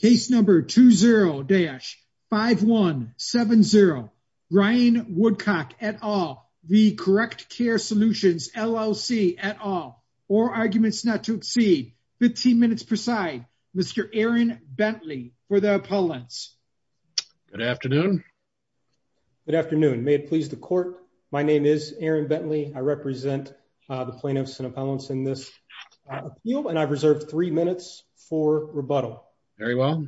Case Number 20-5170 Ryan Woodcock, et al. v. Correct Care Solutions LLC, et al. All arguments not to exceed 15 minutes per side. Mr. Aaron Bentley for the appellants. Good afternoon. Good afternoon. May it please the court. My name is Aaron Bentley. I represent the plaintiffs and appellants in this appeal and I've reserved three minutes for rebuttal. Very well.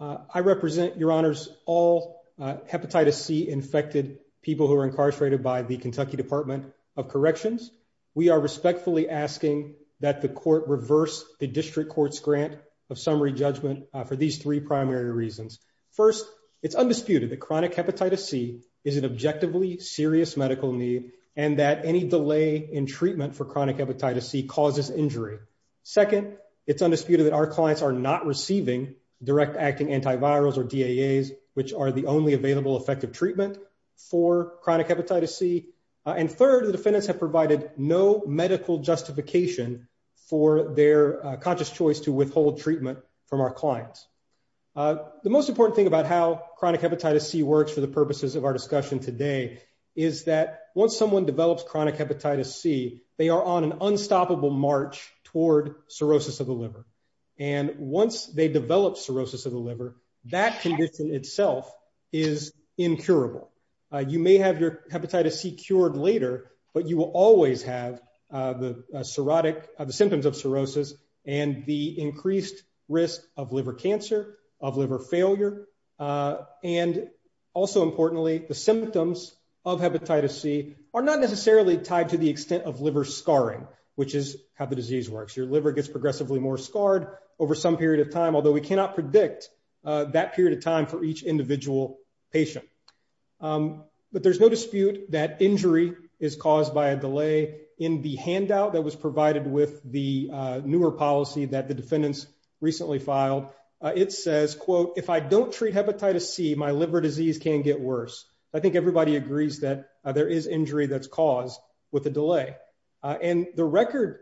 I represent, your honors, all hepatitis C infected people who are incarcerated by the Kentucky Department of Corrections. We are respectfully asking that the court reverse the district court's grant of summary judgment for these three primary reasons. First, it's undisputed that chronic hepatitis C is an objectively serious medical need and that any clients are not receiving direct acting antivirals or DAAs, which are the only available effective treatment for chronic hepatitis C. And third, the defendants have provided no medical justification for their conscious choice to withhold treatment from our clients. The most important thing about how chronic hepatitis C works for the purposes of our discussion today is that once someone develops chronic hepatitis C, they are on an unstoppable march toward cirrhosis of the liver. And once they develop cirrhosis of the liver, that condition itself is incurable. You may have your hepatitis C cured later, but you will always have the symptoms of cirrhosis and the increased risk of liver cancer, of liver failure. And also importantly, the symptoms of hepatitis C are not necessarily tied to the extent of liver scarring, which is how the disease works. Your liver gets progressively more scarred over some period of time, although we cannot predict that period of time for each individual patient. But there's no dispute that injury is caused by a delay in the handout that was provided with the newer policy that the defendants recently filed. It says, quote, if I don't treat hepatitis C, my liver disease can get worse. I think everybody agrees that there is injury that's caused with a delay. And the record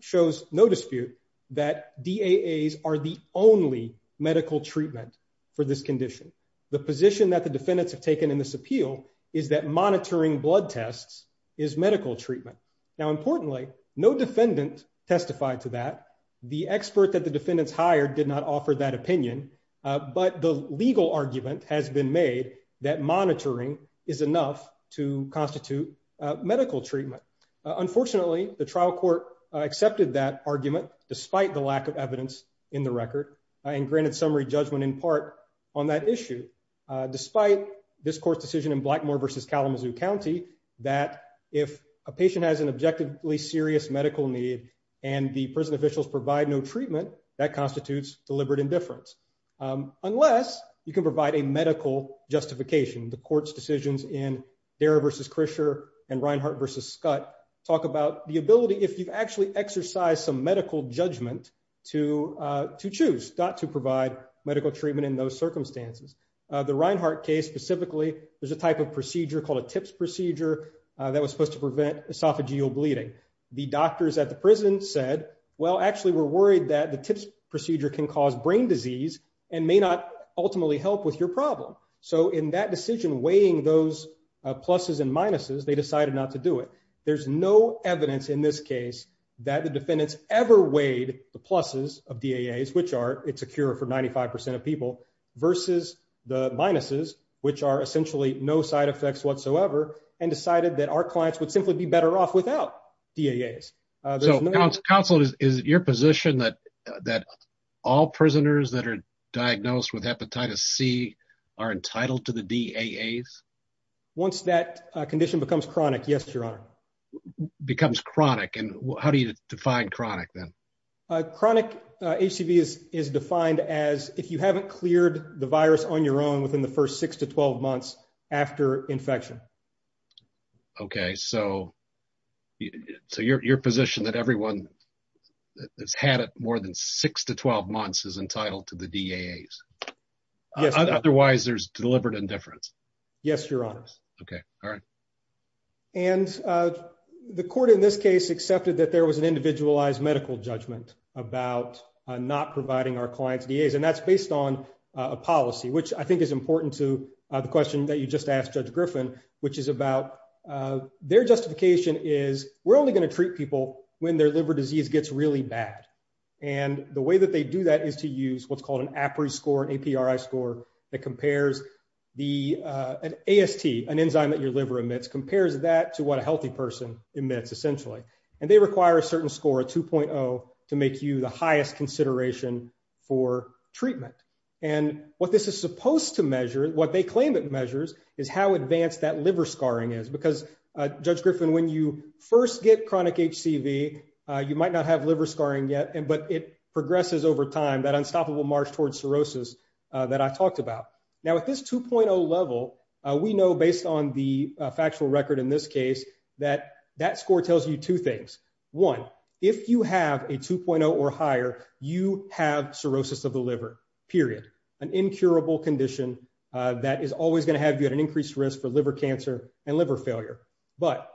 shows no dispute that DAAs are the only medical treatment for this condition. The position that the defendants have taken in this appeal is that monitoring blood tests is medical treatment. Now, importantly, no defendant testified to that. The expert that the defendants hired did not offer that opinion. But the legal argument has been made that monitoring is enough to constitute medical treatment. Unfortunately, the trial court accepted that argument, despite the lack of evidence in the record, and granted summary judgment in part on that issue, despite this court's decision in Blackmore v. Kalamazoo County that if a patient has an objectively serious medical need and the prison officials provide no treatment, that constitutes deliberate indifference, unless you can provide a medical justification. The court's decisions in Dara v. Krischer and Reinhart v. Scutt talk about the ability, if you've actually exercised some medical judgment, to choose not to provide medical treatment in those circumstances. The Reinhart case specifically, there's a type of procedure called a TIPS procedure that was supposed to prevent esophageal bleeding. The doctors at the that the TIPS procedure can cause brain disease and may not ultimately help with your problem. So in that decision, weighing those pluses and minuses, they decided not to do it. There's no evidence in this case that the defendants ever weighed the pluses of DAAs, which are it's a cure for 95% of people, versus the minuses, which are essentially no side effects whatsoever, and decided that our clients would simply be better off without DAAs. So counsel, is it your position that all prisoners that are diagnosed with hepatitis C are entitled to the DAAs? Once that condition becomes chronic, yes, your honor. Becomes chronic, and how do you define chronic then? Chronic HCV is defined as if you haven't cleared the virus on your own within the first 6 to 12 months after infection. Okay, so your position that everyone that's had it more than 6 to 12 months is entitled to the DAAs? Yes. Otherwise there's deliberate indifference? Yes, your honor. Okay, all right. And the court in this case accepted that there was an individualized medical judgment about not providing our clients DAAs, and that's based on a policy, which I think is important to the question that you just asked Judge Griffin, which is about their justification is we're only going to treat people when their liver disease gets really bad. And the way that they do that is to use what's called an APRI score, an APRI score that compares the AST, an enzyme that your liver emits, compares that to what a healthy person emits essentially. And they require a certain score, a 2.0, to make you the highest consideration for treatment. And what this is supposed to measure, what they claim it measures, is how advanced that liver scarring is. Because Judge Griffin, when you first get chronic HCV, you might not have liver scarring yet, but it progresses over time, that unstoppable march towards cirrhosis that I talked about. Now at this 2.0 level, we know based on the factual record in this case, that that score tells you two things. One, if you have a 2.0 or higher, you have cirrhosis of the liver, period. An incurable condition that is always going to have you at an increased risk for liver cancer and liver failure. But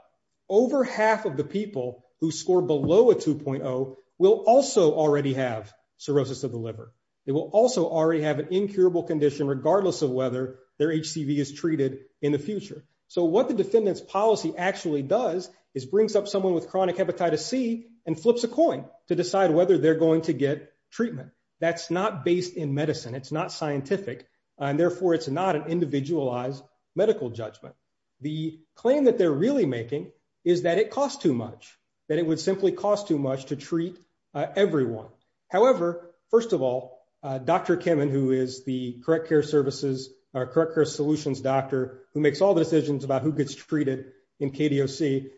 over half of the people who score below a 2.0 will also already have cirrhosis of the liver. They will also already have an incurable condition regardless of whether their HCV is treated in the future. So what the defendant's policy actually does is brings up someone with chronic hepatitis C and flips a coin to decide whether they're going to get treatment. That's not based in medicine. It's not scientific and therefore it's not an individualized medical judgment. The claim that they're really making is that it costs too much, that it would simply cost too much to treat everyone. However, first of all, Dr. Kimmon, who is the correct care services or correct care solutions doctor who makes all the decisions about who gets treated in KDOC,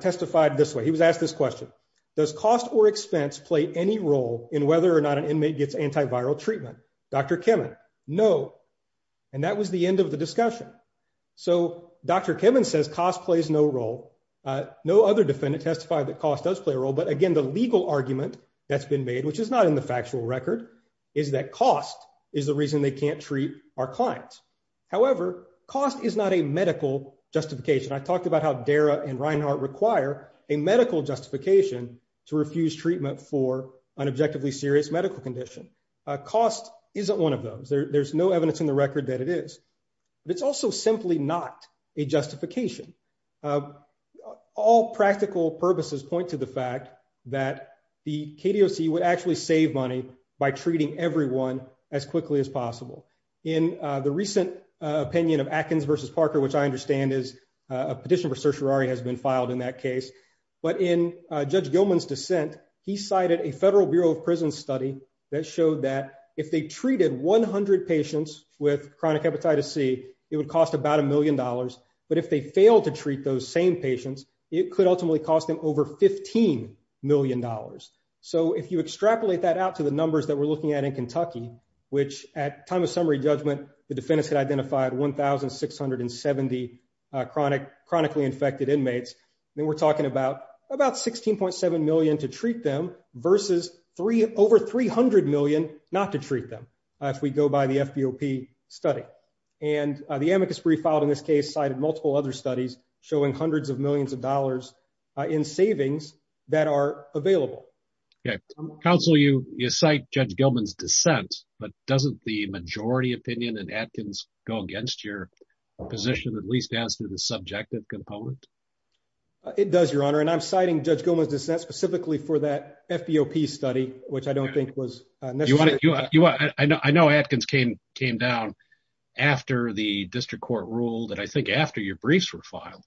testified this way. He was asked this question, does cost or expense play any role in whether or not an inmate gets antiviral treatment? Dr. Kimmon, no. And that was the end of the discussion. So Dr. Kimmon says cost plays no role. No other defendant testified that cost does play a role. But again, the legal argument that's been made, which is not in the factual record, is that cost is the reason they can't treat our clients. However, cost is not a medical justification. I talked about how DARA and Reinhart require a medical justification to refuse treatment for an objectively serious medical condition. Cost isn't one of those. There's no evidence in the record that it is. But it's also simply not a justification. All practical purposes point to the fact that the KDOC would actually save money by treating everyone as quickly as possible. In the recent opinion of Atkins versus Parker, which I understand is a petition for certiorari has been filed in that case. But in Judge Gilman's dissent, he cited a Federal Bureau of Prisons study that showed that if they treated 100 patients with chronic hepatitis C, it would cost about a million dollars. But if they fail to treat those same patients, it could ultimately cost them over 15 million dollars. So if you extrapolate that out to the numbers that we're looking at in Kentucky, which at time of summary judgment, the defendants had identified 1,670 chronically infected inmates, then we're talking about about 16.7 million to treat them versus over 300 million not to treat them if we go by the FBOP study. And the amicus brief filed in this case cited multiple other studies showing hundreds of millions of dollars in savings that are available. Yeah. Counsel, you cite Judge Gilman's dissent, but doesn't the majority opinion in Atkins go against your position, at least as to the subjective component? It does, Your Honor. And I'm citing Judge Gilman's dissent specifically for that FBOP study, which I don't think was necessary. I know Atkins came down after the district court ruled, and I think after your briefs were filed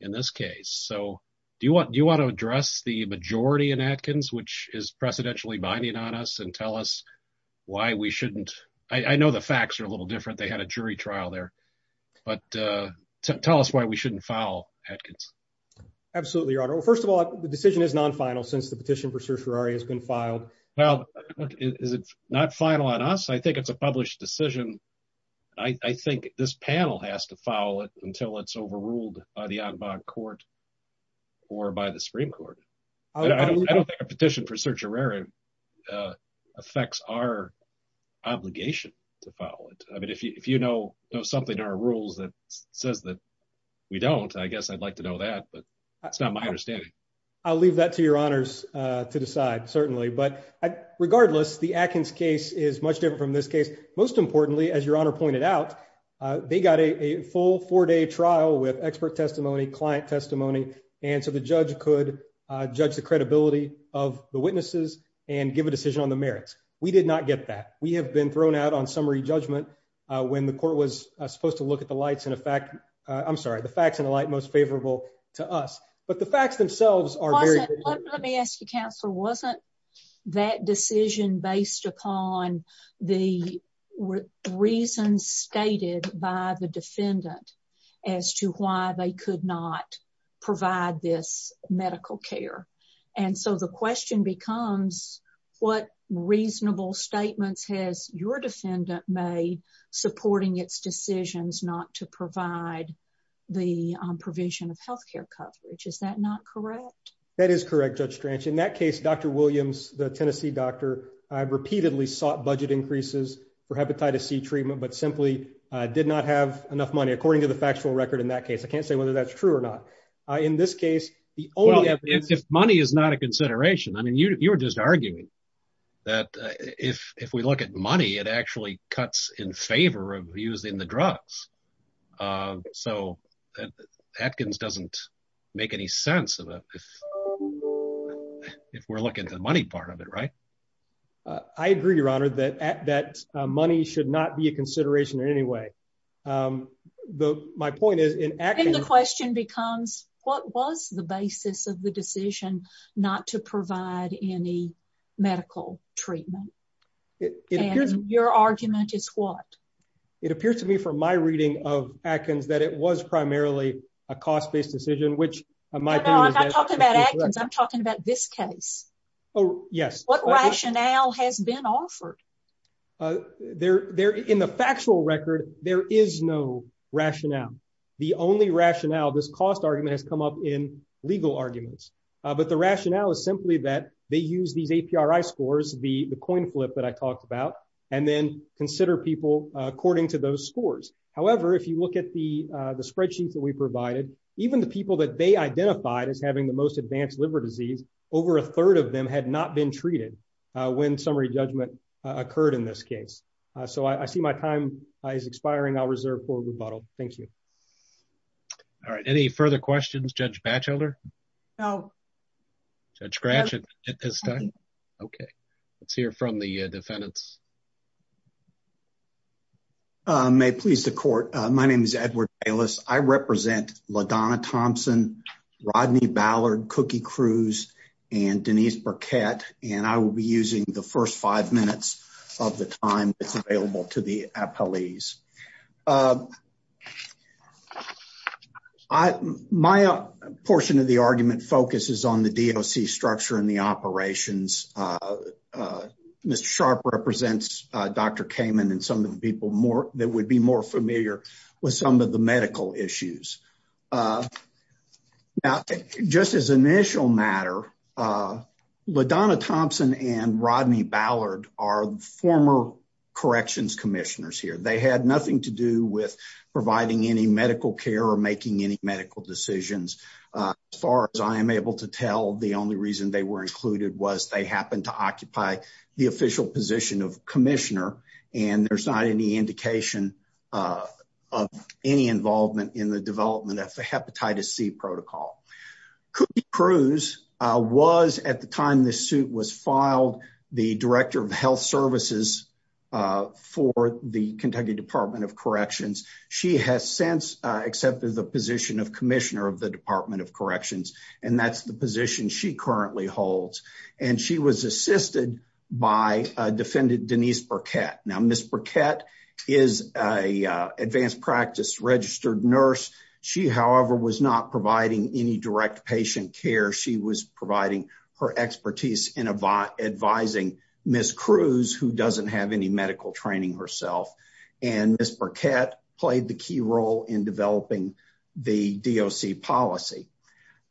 in this case. So do you want to address the majority in Atkins, which is precedentially binding on us and tell us why we shouldn't? I know the facts are a little different. They had a jury trial there, but tell us why we shouldn't file Atkins. Absolutely, Your Honor. Well, first of all, the decision is non-final since the petition for certiorari has been filed. Well, is it not final on us? I think it's a published decision. I think this panel has to file it until it's overruled by the en banc court or by the Supreme Court. I don't think certiorari affects our obligation to file it. I mean, if you know something in our rules that says that we don't, I guess I'd like to know that, but that's not my understanding. I'll leave that to Your Honors to decide, certainly. But regardless, the Atkins case is much different from this case. Most importantly, as Your Honor pointed out, they got a full four-day trial with expert testimony, client testimony, and so the judge could judge the credibility of the witnesses and give a decision on the merits. We did not get that. We have been thrown out on summary judgment when the court was supposed to look at the facts in a light most favorable to us, but the facts themselves are very different. Let me ask you, Counselor, wasn't that decision based upon the reasons stated by the defendant as to why they could not provide this medical care? And so the question becomes, what reasonable statements has your defendant made supporting its decisions not to provide the provision of health care coverage? Is that not correct? That is correct, Judge Strange. In that case, Dr. Williams, the Tennessee doctor, repeatedly sought budget increases for hepatitis C treatment but simply did not have enough money, according to the factual record in that case. I can't say whether that's true or not. In this case, the only evidence... Well, if money is not a consideration, I mean, you were just arguing that if we look at money, it actually cuts in favor of using the drugs. So Atkins doesn't make any sense if we're looking at the money part of it, right? I agree, Your Honor, that money should not be a consideration in any way. My point is, in Atkins... And the question becomes, what was the basis of the decision not to provide any medical treatment? And your argument is what? It appears to me from my reading of Atkins that it was primarily a cost-based decision, which my opinion is that... I'm not talking about Atkins, I'm talking about this case. Oh, yes. What rationale has been offered? In the factual record, there is no rationale. The only rationale... This cost argument has come up in legal arguments, but the rationale is simply that they use these APRI scores, the coin flip that I talked about, and then consider people according to those scores. However, if you look at the spreadsheets that we provided, even the people that they identified as having the most advanced liver disease, over a third of them had not been treated when summary judgment occurred in this case. So, I see my time is expiring. I'll reserve for rebuttal. Thank you. All right. Any further questions, Judge Batchelder? No. Judge Gratchen? Okay. Let's hear from the defendants. May it please the court. My name is Edward Bayless. I represent LaDonna Thompson, Rodney Ballard, Cookie Cruz, and Denise Burkett. And I will be using the first five minutes of the time that's available to the appellees. My portion of the argument focuses on the DOC structure and the operations. Mr. Sharp represents Dr. Kamen and some of the people that would be more familiar with some of the medical issues. Now, just as an initial matter, LaDonna Thompson and Rodney Ballard are former corrections commissioners here. They had nothing to do with providing any medical care or making any medical decisions. As far as I am able to tell, the only reason they were included was they happened to occupy the official position of any involvement in the development of the hepatitis C protocol. Cookie Cruz was, at the time this suit was filed, the director of health services for the Kentucky Department of Corrections. She has since accepted the position of commissioner of the Department of Corrections, and that's the position she currently holds. And she was assisted by defendant Denise Burkett. Now, Ms. Burkett is an advanced practice registered nurse. She, however, was not providing any direct patient care. She was providing her expertise in advising Ms. Cruz, who doesn't have any medical training herself. And Ms. Burkett played the key role in developing the DOC policy.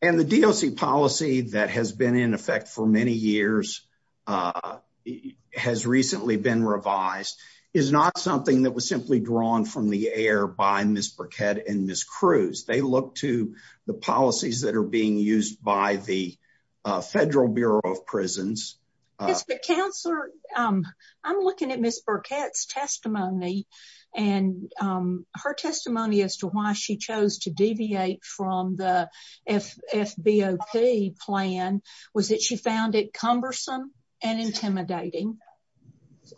And the DOC policy that has been in effect for many years, has recently been revised, is not something that was simply drawn from the air by Ms. Burkett and Ms. Cruz. They look to the policies that are being used by the Federal Bureau of Prisons. I'm looking at Ms. Burkett's testimony, and her testimony as to why she chose to deviate from the FBOP plan was that she found it cumbersome and intimidating.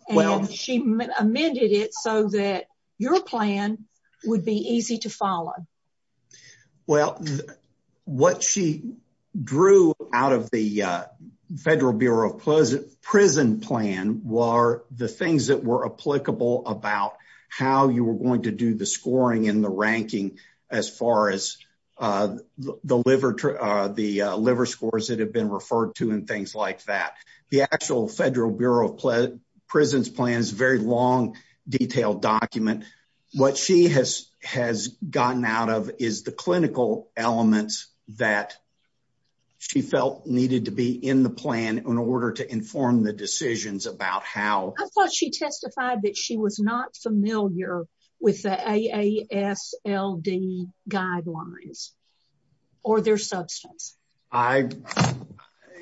And she amended it so that your plan would be easy to follow. Well, what she drew out of the Federal Bureau of Prison plan were the things that were applicable about how you were going to do the scoring and the ranking as far as the liver scores that have been referred to and things like that. The actual Federal Bureau of Prisons plan is a very long, detailed document. What she has gotten out of is the clinical elements that she felt needed to be in the plan in order to inform the decisions about how... I thought she testified that she was not familiar with the AASLD guidelines, or their substance.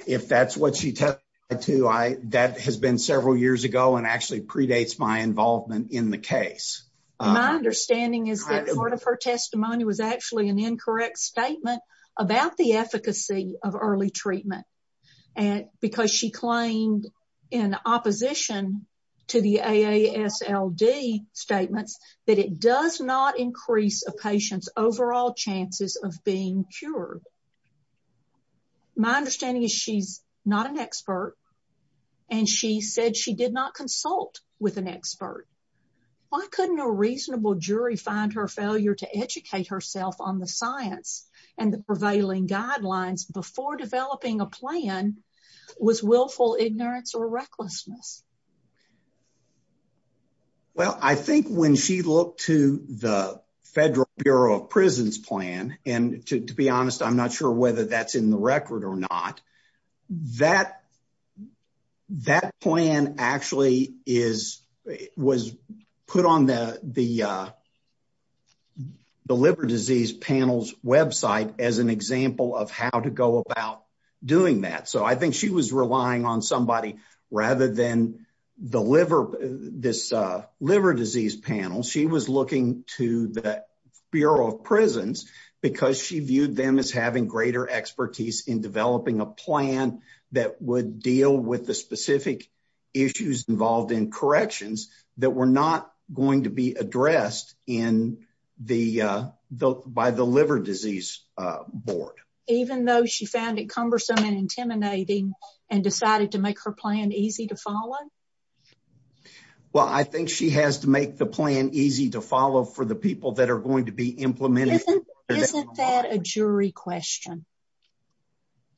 If that's what she testified to, that has been several years ago and actually predates my involvement in the case. My understanding is that part of her testimony was actually an incorrect statement about the to the AASLD statements that it does not increase a patient's overall chances of being cured. My understanding is she's not an expert, and she said she did not consult with an expert. Why couldn't a reasonable jury find her failure to educate herself on the science and the prevailing guidelines before developing a plan was willful ignorance or recklessness? Well, I think when she looked to the Federal Bureau of Prisons plan, and to be honest, I'm not sure whether that's in the record or not, that plan actually was put on the liver disease panels website as an example of how to go about doing that. I think she was relying on somebody rather than this liver disease panel. She was looking to the Bureau of Prisons because she viewed them as having greater expertise in developing a plan that would deal with the specific issues involved in corrections that were not going to be addressed by the liver disease board. Even though she found it cumbersome and intimidating and decided to make her plan easy to follow? Well, I think she has to make the plan easy to follow for the people that are going to be implemented. Isn't that a jury question?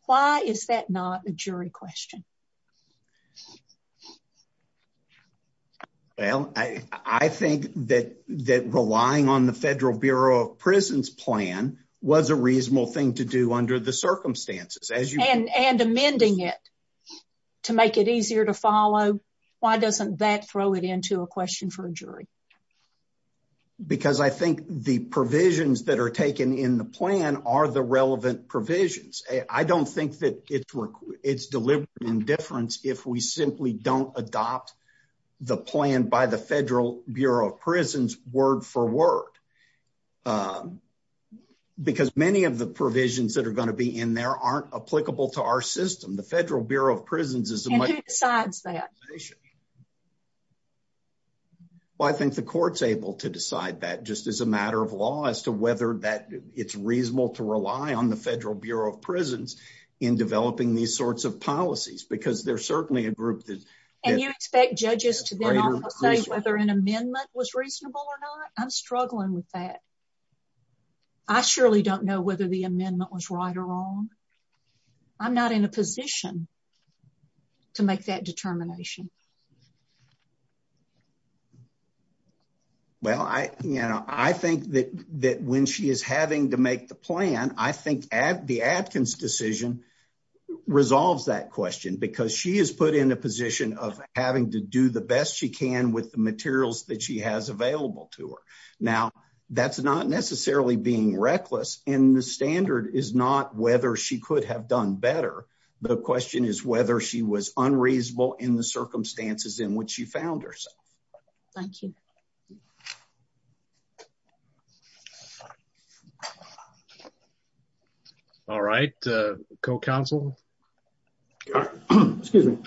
Why is that not a jury question? Well, I think that that relying on the Federal Bureau of Prisons plan was a reasonable thing to do under the circumstances. And amending it to make it easier to follow, why doesn't that throw it into a question for a jury? Because I think the provisions that are taken in the plan are the relevant provisions. I don't think that it's deliberate indifference if we simply don't adopt the plan by the Federal Bureau of Prisons word for word. Because many of the provisions that are going to be in there aren't applicable to our system. The Federal Bureau of Prisons is... And who decides that? Well, I think the court's able to decide that just as a matter of law as to whether that it's reasonable to rely on the Federal Bureau of Prisons in developing these sorts of policies. Because there's certainly a group that... And you expect judges to then also say whether an amendment was reasonable or not? I'm struggling with that. I surely don't know whether the amendment was right or wrong. I'm not in a position to make that determination. Well, I think that when she is having to make the plan, I think the Adkins decision resolves that question. Because she is put in a position of having to do the best she can with the materials that she has available to her. Now, that's not necessarily being reckless. And the standard is not whether she could have done better. The question is whether she was unreasonable in the circumstances in which she found herself. Thank you. All right. Co-counsel? Excuse me.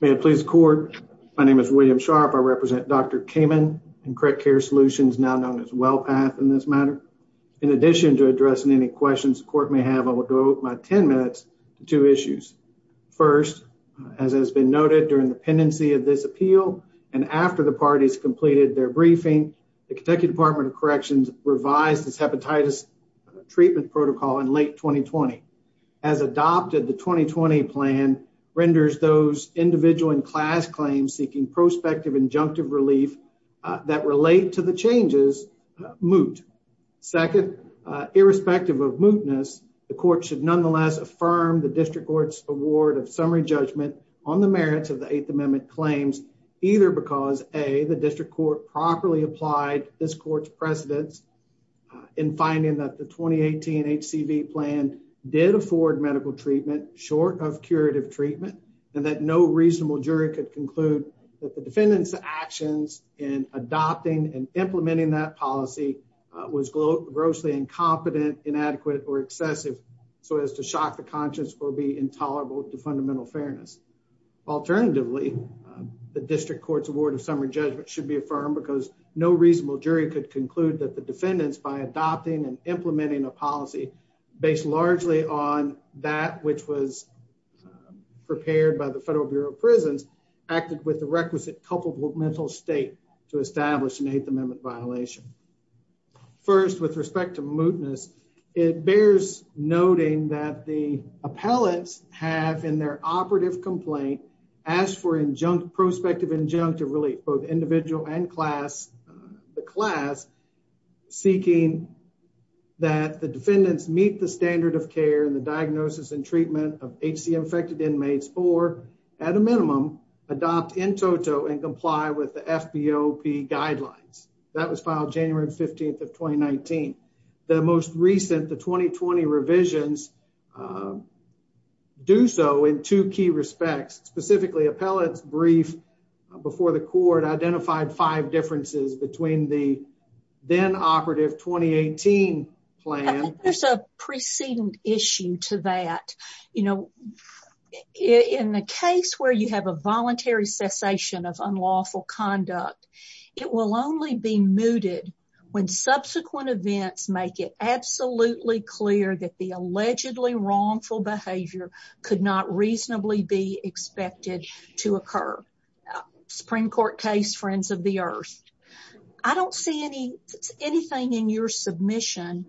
May it please the court. My name is William Sharp. I represent Dr. Kamen in Correct Care Solutions, now known as WellPath in this matter. In addition to addressing any questions the court may have, I will devote my 10 minutes to two issues. First, as has been noted during the pendency of this appeal and after the parties completed their briefing, the Kentucky Department of Corrections revised its hepatitis treatment protocol in late 2020. As adopted, the 2020 plan renders those individual and class claims seeking prospective injunctive relief that relate to the changes moot. Second, irrespective of mootness, the court should amend claims either because, A, the district court properly applied this court's precedents in finding that the 2018 HCV plan did afford medical treatment short of curative treatment, and that no reasonable jury could conclude that the defendant's actions in adopting and implementing that policy was grossly incompetent, inadequate, or excessive, so as to shock the conscience or be intolerable to fundamental fairness. Alternatively, the district court's award of summary judgment should be affirmed because no reasonable jury could conclude that the defendants, by adopting and implementing a policy based largely on that which was prepared by the Federal Bureau of Prisons, acted with the requisite culpable mental state to establish an Eighth Amendment violation. First, with respect to mootness, it bears noting that the appellants have, in their operative complaint, asked for prospective injunctive relief, both individual and class, seeking that the defendants meet the standard of care and the diagnosis and treatment of HCV-infected inmates, or, at a minimum, adopt in toto and comply with the FBOP guidelines. That was filed January 15, 2019. The most recent, the 2020 revisions, do so in two key respects. Specifically, appellants' brief before the court identified five differences between the then-operative 2018 plan... cessation of unlawful conduct. It will only be mooted when subsequent events make it absolutely clear that the allegedly wrongful behavior could not reasonably be expected to occur. Supreme Court case, Friends of the Earth. I don't see anything in your submission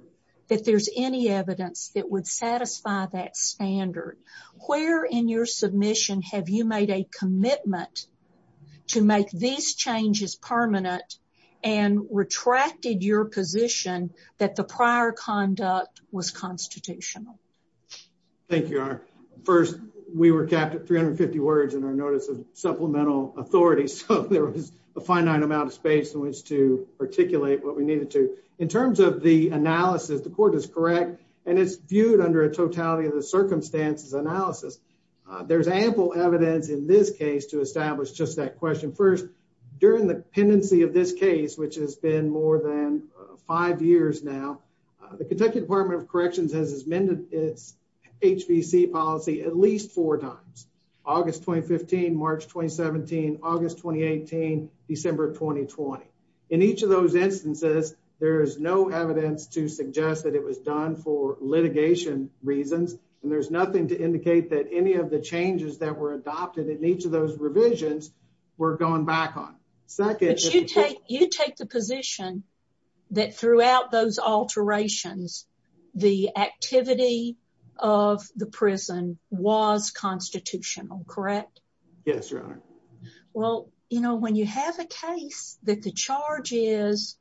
that there's any evidence that would satisfy that standard. Where in your submission have you made a commitment to make these changes permanent and retracted your position that the prior conduct was constitutional? Thank you, Your Honor. First, we were capped at 350 words in our notice of supplemental authority, so there was a finite amount of space in which to articulate what we needed to. In terms of the analysis, the court is correct, and it's viewed under a totality of the analysis. There's ample evidence in this case to establish just that question. First, during the pendency of this case, which has been more than five years now, the Kentucky Department of Corrections has amended its HVC policy at least four times. August 2015, March 2017, August 2018, December 2020. In each of those instances, there is no evidence to suggest that it was done for litigation reasons, and there's nothing to indicate that any of the changes that were adopted in each of those revisions were gone back on. You take the position that throughout those alterations, the activity of the prison was constitutional, correct? Yes, Your Honor. Well, you know, when you have a case that the charge is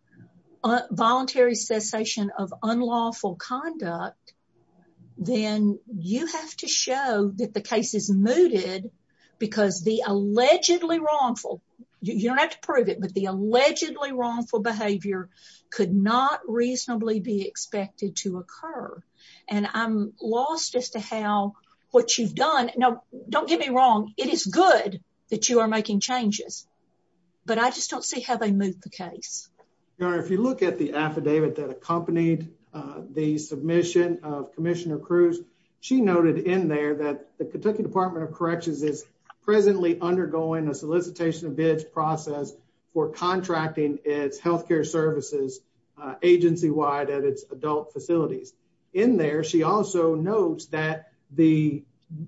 voluntary cessation of unlawful conduct, then you have to show that the case is mooted because the allegedly wrongful, you don't have to prove it, but the allegedly wrongful behavior could not reasonably be expected to occur, and I'm lost as to how what you've done, now don't get me wrong, it is good that you are making changes, but I just don't see how they move the case. Your Honor, if you look at the affidavit that accompanied the submission of Commissioner Cruz, she noted in there that the Kentucky Department of Corrections is presently undergoing a solicitation of bids process for contracting its health care services agency-wide at its adult facilities. In there, she also notes that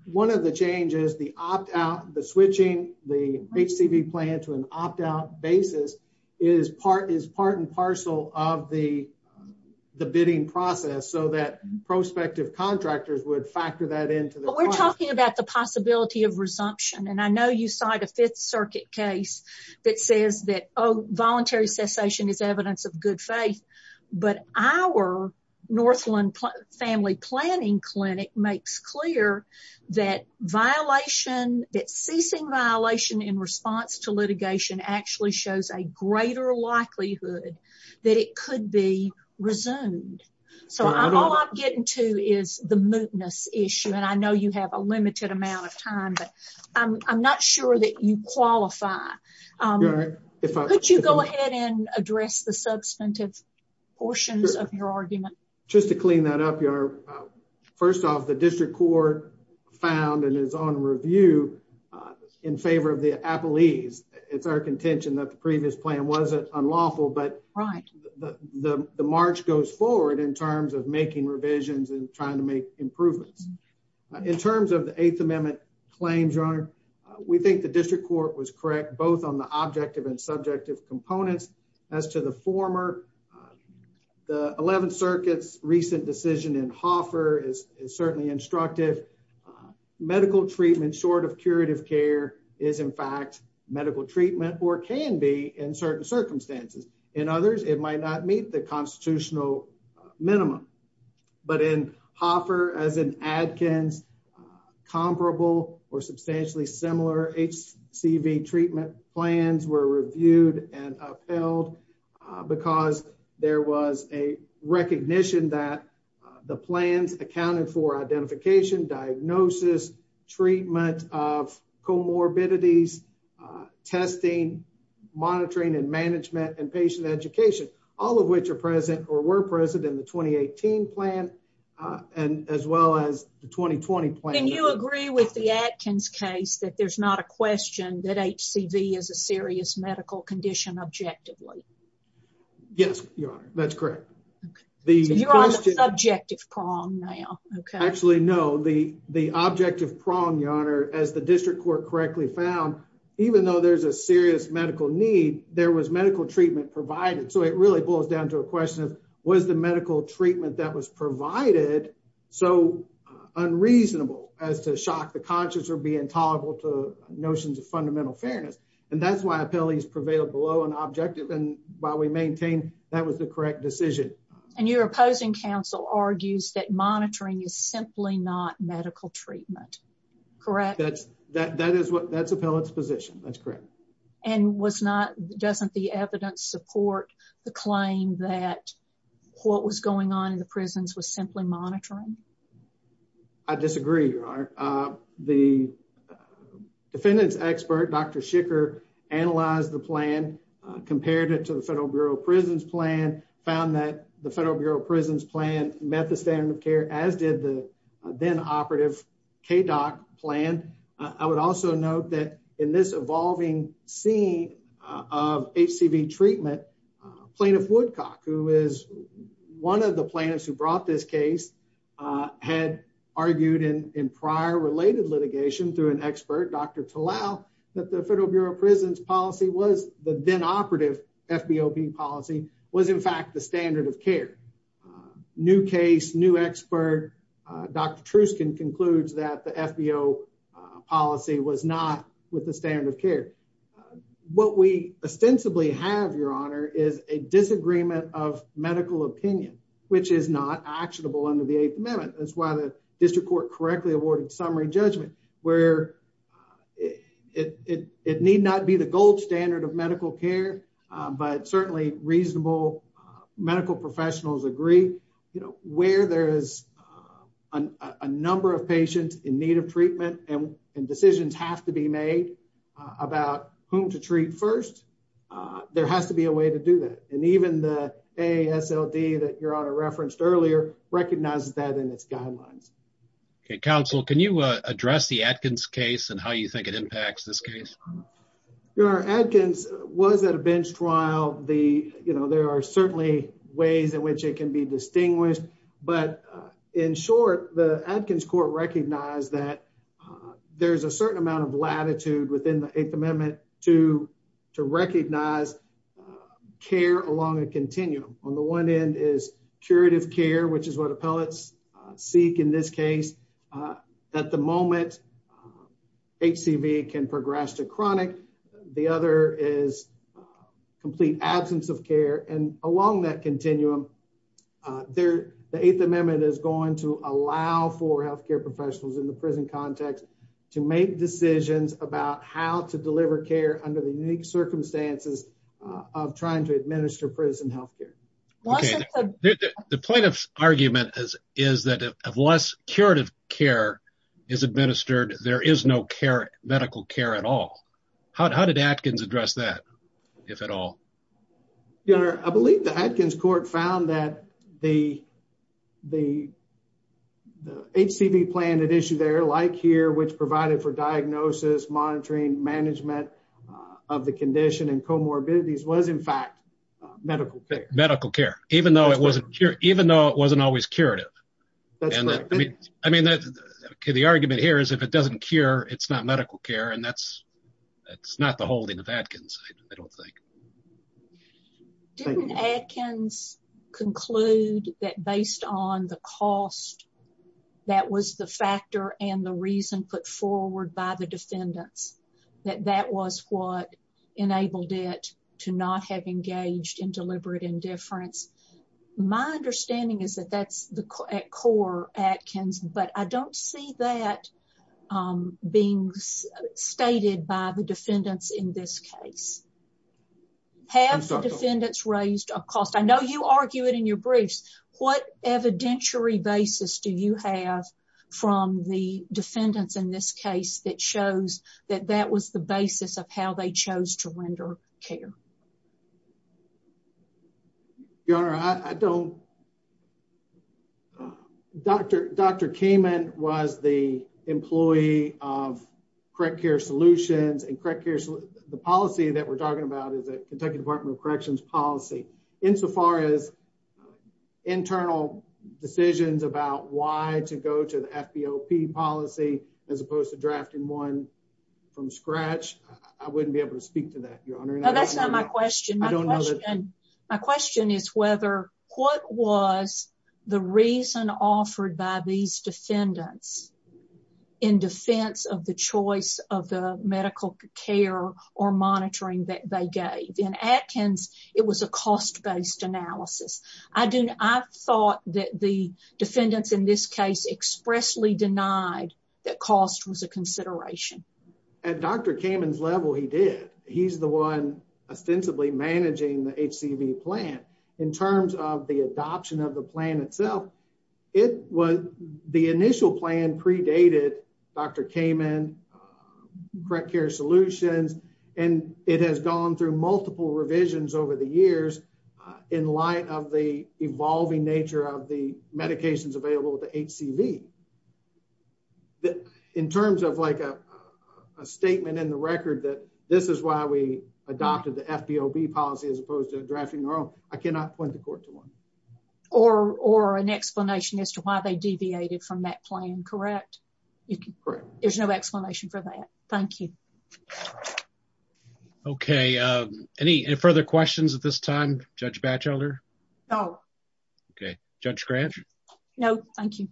one of the changes, the opt-out, the switching the HCV plan to an opt-out basis, is part and the bidding process so that prospective contractors would factor that into the process. We're talking about the possibility of resumption, and I know you cite a Fifth Circuit case that says that, oh, voluntary cessation is evidence of good faith, but our Northland Family Planning Clinic makes clear that violation, that ceasing violation in response to litigation actually shows a greater likelihood that it could be resumed. So, all I'm getting to is the mootness issue, and I know you have a limited amount of time, but I'm not sure that you qualify. Could you go ahead and address the substantive portions of your argument? Just to clean that up, Your Honor, first off, the District Court found and is on review in favor of the Appellees. It's our contention that the previous plan wasn't unlawful, but the march goes forward in terms of making revisions and trying to make improvements. In terms of the Eighth Amendment claims, Your Honor, we think the District Court was correct, both on the objective and subjective components. As to the former, the Eleventh Circuit's recent decision in Hoffer is certainly instructive. Medical treatment short of curative care is, in fact, medical treatment or can be in certain circumstances. In others, it might not meet the constitutional minimum. But in Hoffer, as in Adkins, comparable or substantially similar HCV treatment plans were reviewed and upheld because there was a recognition that the plans accounted for identification, diagnosis, treatment of comorbidities, testing, monitoring and management, and patient education, all of which are present or were present in the 2018 plan, and as well as the 2020 plan. Can you agree with the Adkins case that there's not a question that HCV is a serious medical condition objectively? Yes, Your Honor, that's correct. You're on the subjective prong now. Actually, no. The objective prong, Your Honor, as the District Court correctly found, even though there's a serious medical need, there was medical treatment provided. So it really boils down to a question of was the medical treatment that was provided so unreasonable as to shock the conscious or be intolerable to notions of fundamental fairness. And that's why appellees prevailed below an objective, and while we maintain that was the correct decision. And your opposing counsel argues that monitoring is simply not medical treatment, correct? That's appellate's position, that's correct. And doesn't the evidence support the claim that what was going on in the prisons was simply monitoring? I disagree, Your Honor. The defendant's expert, Dr. Schicker, analyzed the plan, compared it to the Federal Bureau of Prisons plan, found that the Federal Bureau of Prisons plan met the standard of care as did the then operative KDOC plan. I would also note that in this evolving scene of HCV treatment, Plaintiff Woodcock, who is one of the plaintiffs who brought this case, had argued in prior related litigation through an expert, Dr. Talal, that the Federal Bureau of Prisons policy was the then operative FBOP policy, was in fact the standard of care. New case, new expert, Dr. Truskin concludes that the FBO policy was not with the standard of care. What we ostensibly have, Your Honor, is a disagreement of medical opinion, which is not actionable under the Eighth Amendment. That's why the district court correctly awarded summary judgment, where it need not be the gold standard of medical care, but certainly reasonable medical professionals agree, you know, where there is a number of patients in need of treatment and decisions have to be made about whom to treat first, there has to be a way to do that. And even the ASLD that Your Honor referenced earlier recognizes that in its guidelines. Okay, counsel, can you address the Atkins case and how you think it impacts this case? Your Honor, Atkins was at a bench trial. You know, there are certainly ways in which it can be distinguished. But in short, the Atkins court recognized that there's a certain amount of latitude within the Eighth Amendment to recognize care along a continuum. On the one end is curative care, which is what appellates seek in this case. At the moment, HCV can progress to their the Eighth Amendment is going to allow for health care professionals in the prison context to make decisions about how to deliver care under the unique circumstances of trying to administer prison health care. The point of argument is, is that unless curative care is administered, there is no care medical care at all. How did Atkins address that, if at all? Your Honor, I believe the Atkins court found that the HCV plan at issue there, like here, which provided for diagnosis, monitoring, management of the condition and comorbidities was in fact medical care. Medical care, even though it wasn't always curative. I mean, the argument here is if it doesn't cure, it's not medical care. And that's didn't Atkins conclude that based on the cost, that was the factor and the reason put forward by the defendants, that that was what enabled it to not have engaged in deliberate indifference. My understanding is that that's the core Atkins, but I don't see that being stated by the defendants in this case. Have the defendants raised a cost? I know you argue it in your briefs. What evidentiary basis do you have from the defendants in this case that shows that that was the basis of how they chose to render care? Your Honor, I don't. Dr. Dr. Kamen was the employee of correct care solutions and correct care. The policy that we're talking about is that Kentucky Department of Corrections policy insofar as internal decisions about why to go to the FBOP policy as opposed to drafting one from scratch. I wouldn't be able to My question is whether what was the reason offered by these defendants in defense of the choice of the medical care or monitoring that they gave? In Atkins, it was a cost based analysis. I thought that the defendants in this case expressly denied that cost was a consideration. At Dr. Kamen's level, he did. He's the one ostensibly managing the HCV plan in terms of the adoption of the plan itself. It was the initial plan predated Dr. Kamen, correct care solutions, and it has gone through multiple revisions over the years in light of the evolving nature of the medications available to HCV. In terms of like a statement in the record that this is why we adopted the FBOB policy as opposed to drafting their own, I cannot point the court to one. Or an explanation as to why they deviated from that plan, correct? There's no explanation for that. Thank you. Okay, any further questions at this time, Judge Batchelder? No. Okay, Judge Grant? No, thank you.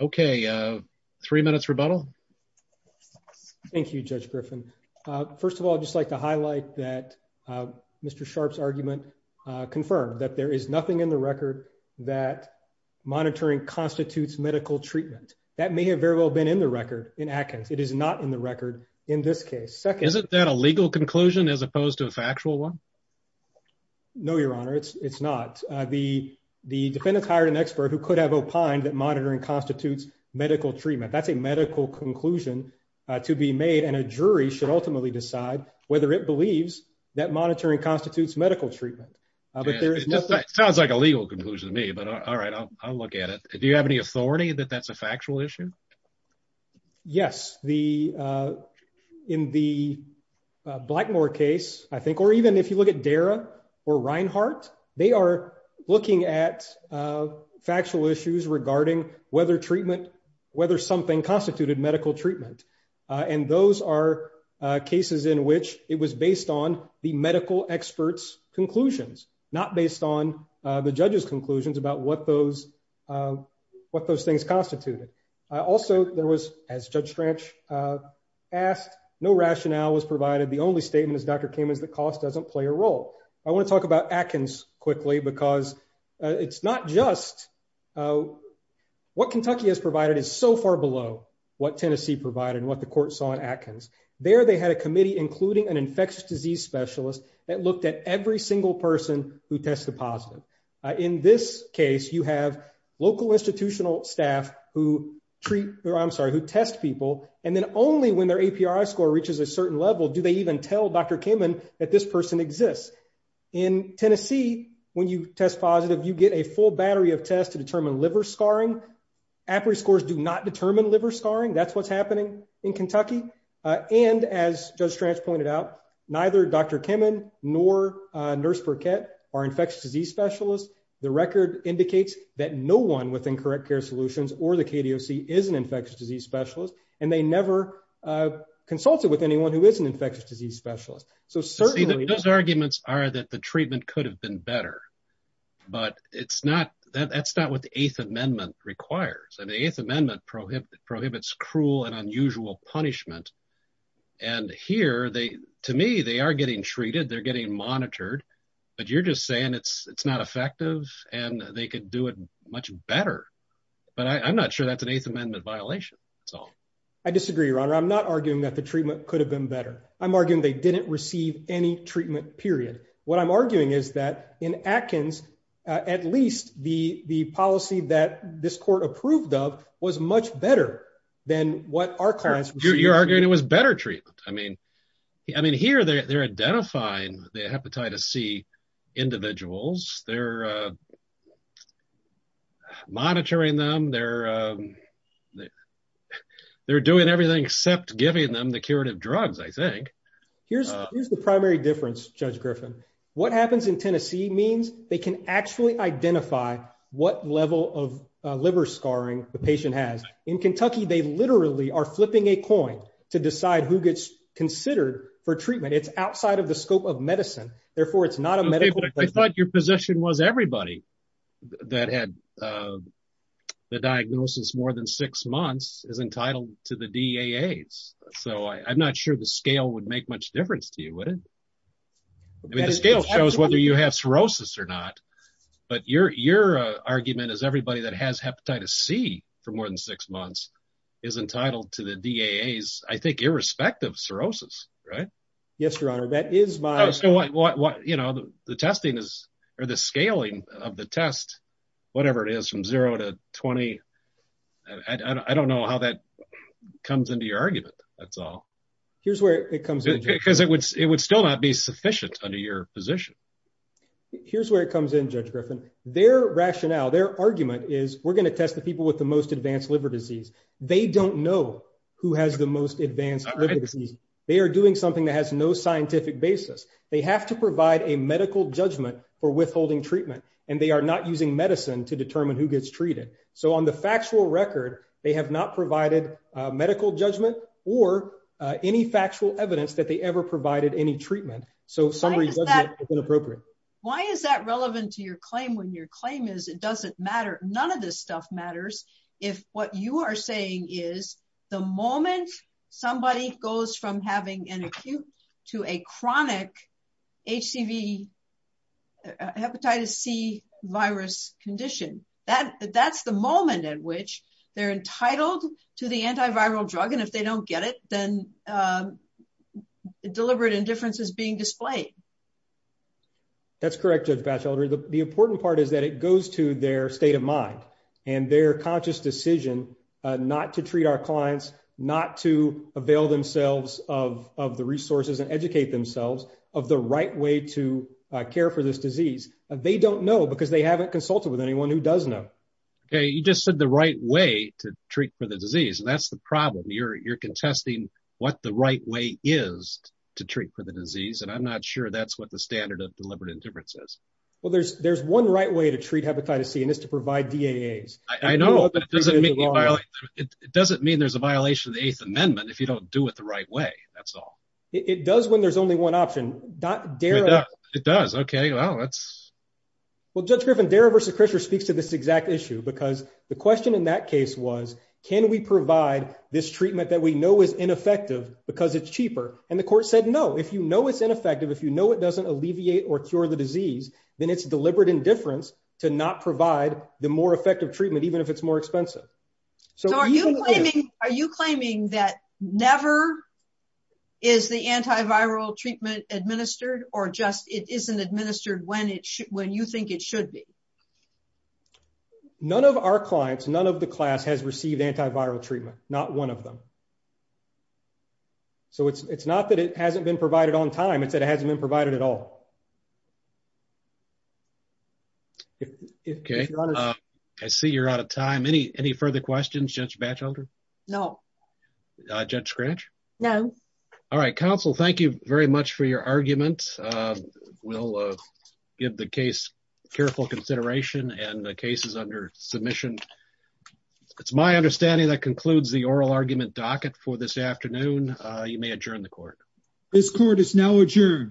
Okay, three minutes rebuttal. Thank you, Judge Griffin. First of all, I'd just like to highlight that Mr. Sharp's argument confirmed that there is nothing in the record that monitoring constitutes medical treatment. That may have very well been in the record in Atkins. It is not in the record in this case. Second, isn't that a legal conclusion as opposed to a factual one? No, Your Honor, it's not. The defendant's hired an expert who could have opined that monitoring constitutes medical treatment. That's a medical conclusion to be made and a jury should ultimately decide whether it believes that monitoring constitutes medical treatment. It sounds like a legal conclusion to me, but all right, I'll look at it. Do you have any authority that that's a or Reinhart? They are looking at factual issues regarding whether something constituted medical treatment. And those are cases in which it was based on the medical expert's conclusions, not based on the judge's conclusions about what those things constituted. Also, there was, as Judge Stranch asked, no rationale was provided. The only statement is Dr. Kamen's cost doesn't play a role. I want to talk about Atkins quickly because it's not just what Kentucky has provided is so far below what Tennessee provided and what the court saw in Atkins. There they had a committee, including an infectious disease specialist that looked at every single person who tested positive. In this case, you have local institutional staff who treat or I'm sorry, who test people. And then only when their A.P.R.I. score reaches a certain level, do they even tell Dr. Kamen that this person exists. In Tennessee, when you test positive, you get a full battery of tests to determine liver scarring. A.P.R.I. scores do not determine liver scarring. That's what's happening in Kentucky. And as Judge Stranch pointed out, neither Dr. Kamen nor Nurse Burkett are infectious disease specialists. The record indicates that no one within Correct Care Solutions or the KDOC is an infectious disease specialist, and they never consulted with anyone who is an infectious disease specialist. So certainly those arguments are that the treatment could have been better, but that's not what the Eighth Amendment requires. And the Eighth Amendment prohibits cruel and unusual punishment. And here, to me, they are getting treated, they're getting monitored, but you're just saying it's not effective and they could do it much better. But I'm not sure that's an Eighth Amendment violation at all. I disagree, Your Honor. I'm not arguing that the treatment could have been better. I'm arguing they didn't receive any treatment, period. What I'm arguing is that in Atkins, at least the policy that this court approved of was much better than what our clients received. You're arguing it was better treatment. I mean, here they're identifying the Hepatitis C individuals, they're monitoring them, they're doing everything except giving them the curative drugs, I think. Here's the primary difference, Judge Griffin. What happens in Tennessee means they can actually identify what level of liver scarring the patient has. In Kentucky, they literally are flipping a coin to decide who gets considered for treatment. It's outside of the scope of medicine, therefore it's not a medical... I thought your position was everybody that had the diagnosis more than six months is entitled to the DAAs. So I'm not sure the scale would make much difference to you, would it? I mean, the scale shows whether you have cirrhosis or not, but your argument is everybody that has Hepatitis C for more than six months is entitled to the DAAs, I think, irrespective of cirrhosis, right? Yes, Your Honor, that is my... The testing is, or the scaling of the test, whatever it is, from zero to 20, I don't know how that comes into your argument, that's all. Here's where it comes in. Because it would still not be sufficient under your position. Here's where it comes in, Judge Griffin. Their rationale, their argument is we're going to test people with the most advanced liver disease. They don't know who has the most advanced liver disease. They are doing something that has no scientific basis. They have to provide a medical judgment for withholding treatment, and they are not using medicine to determine who gets treated. So on the factual record, they have not provided medical judgment or any factual evidence that they ever provided any treatment. So summary judgment is inappropriate. Why is that relevant to your claim when your claim is it doesn't matter, none of this stuff matters, if what you are saying is the moment somebody goes from having an acute to a chronic HCV, Hepatitis C virus condition, that's the moment at which they're entitled to the antiviral drug. And if they don't get it, then deliberate indifference is being displayed. That's correct, Judge Batchelder. The important part is that it goes to their state of mind and their conscious decision not to treat our clients, not to avail themselves of the resources and educate themselves of the right way to care for this disease. They don't know because they haven't consulted with anyone who does know. Okay, you just said the right way to treat for the disease. That's the problem. You're contesting what the right way is to treat for the disease, and I'm not sure that's what standard of deliberate indifference is. Well, there's one right way to treat Hepatitis C, and it's to provide DAAs. I know, but it doesn't mean there's a violation of the Eighth Amendment if you don't do it the right way, that's all. It does when there's only one option. It does, okay. Well, that's... Well, Judge Griffin, Dara v. Krischer speaks to this exact issue because the question in that case was, can we provide this treatment that we know is ineffective because it's cheaper? And the court said, no, if you know it's ineffective, if you know it doesn't alleviate or cure the disease, then it's deliberate indifference to not provide the more effective treatment, even if it's more expensive. So are you claiming that never is the antiviral treatment administered or just it isn't administered when you think it should be? None of our clients, none of the class has received antiviral treatment, not one of them. So it's not that it hasn't been provided on time, it's that it hasn't been provided at all. Okay, I see you're out of time. Any further questions, Judge Batchelder? No. Judge Scratch? No. All right, counsel, thank you very much for your argument. We'll give the case careful consideration and the case is under submission. It's my understanding that concludes the oral argument docket for this afternoon. You may adjourn the court. This court is now adjourned.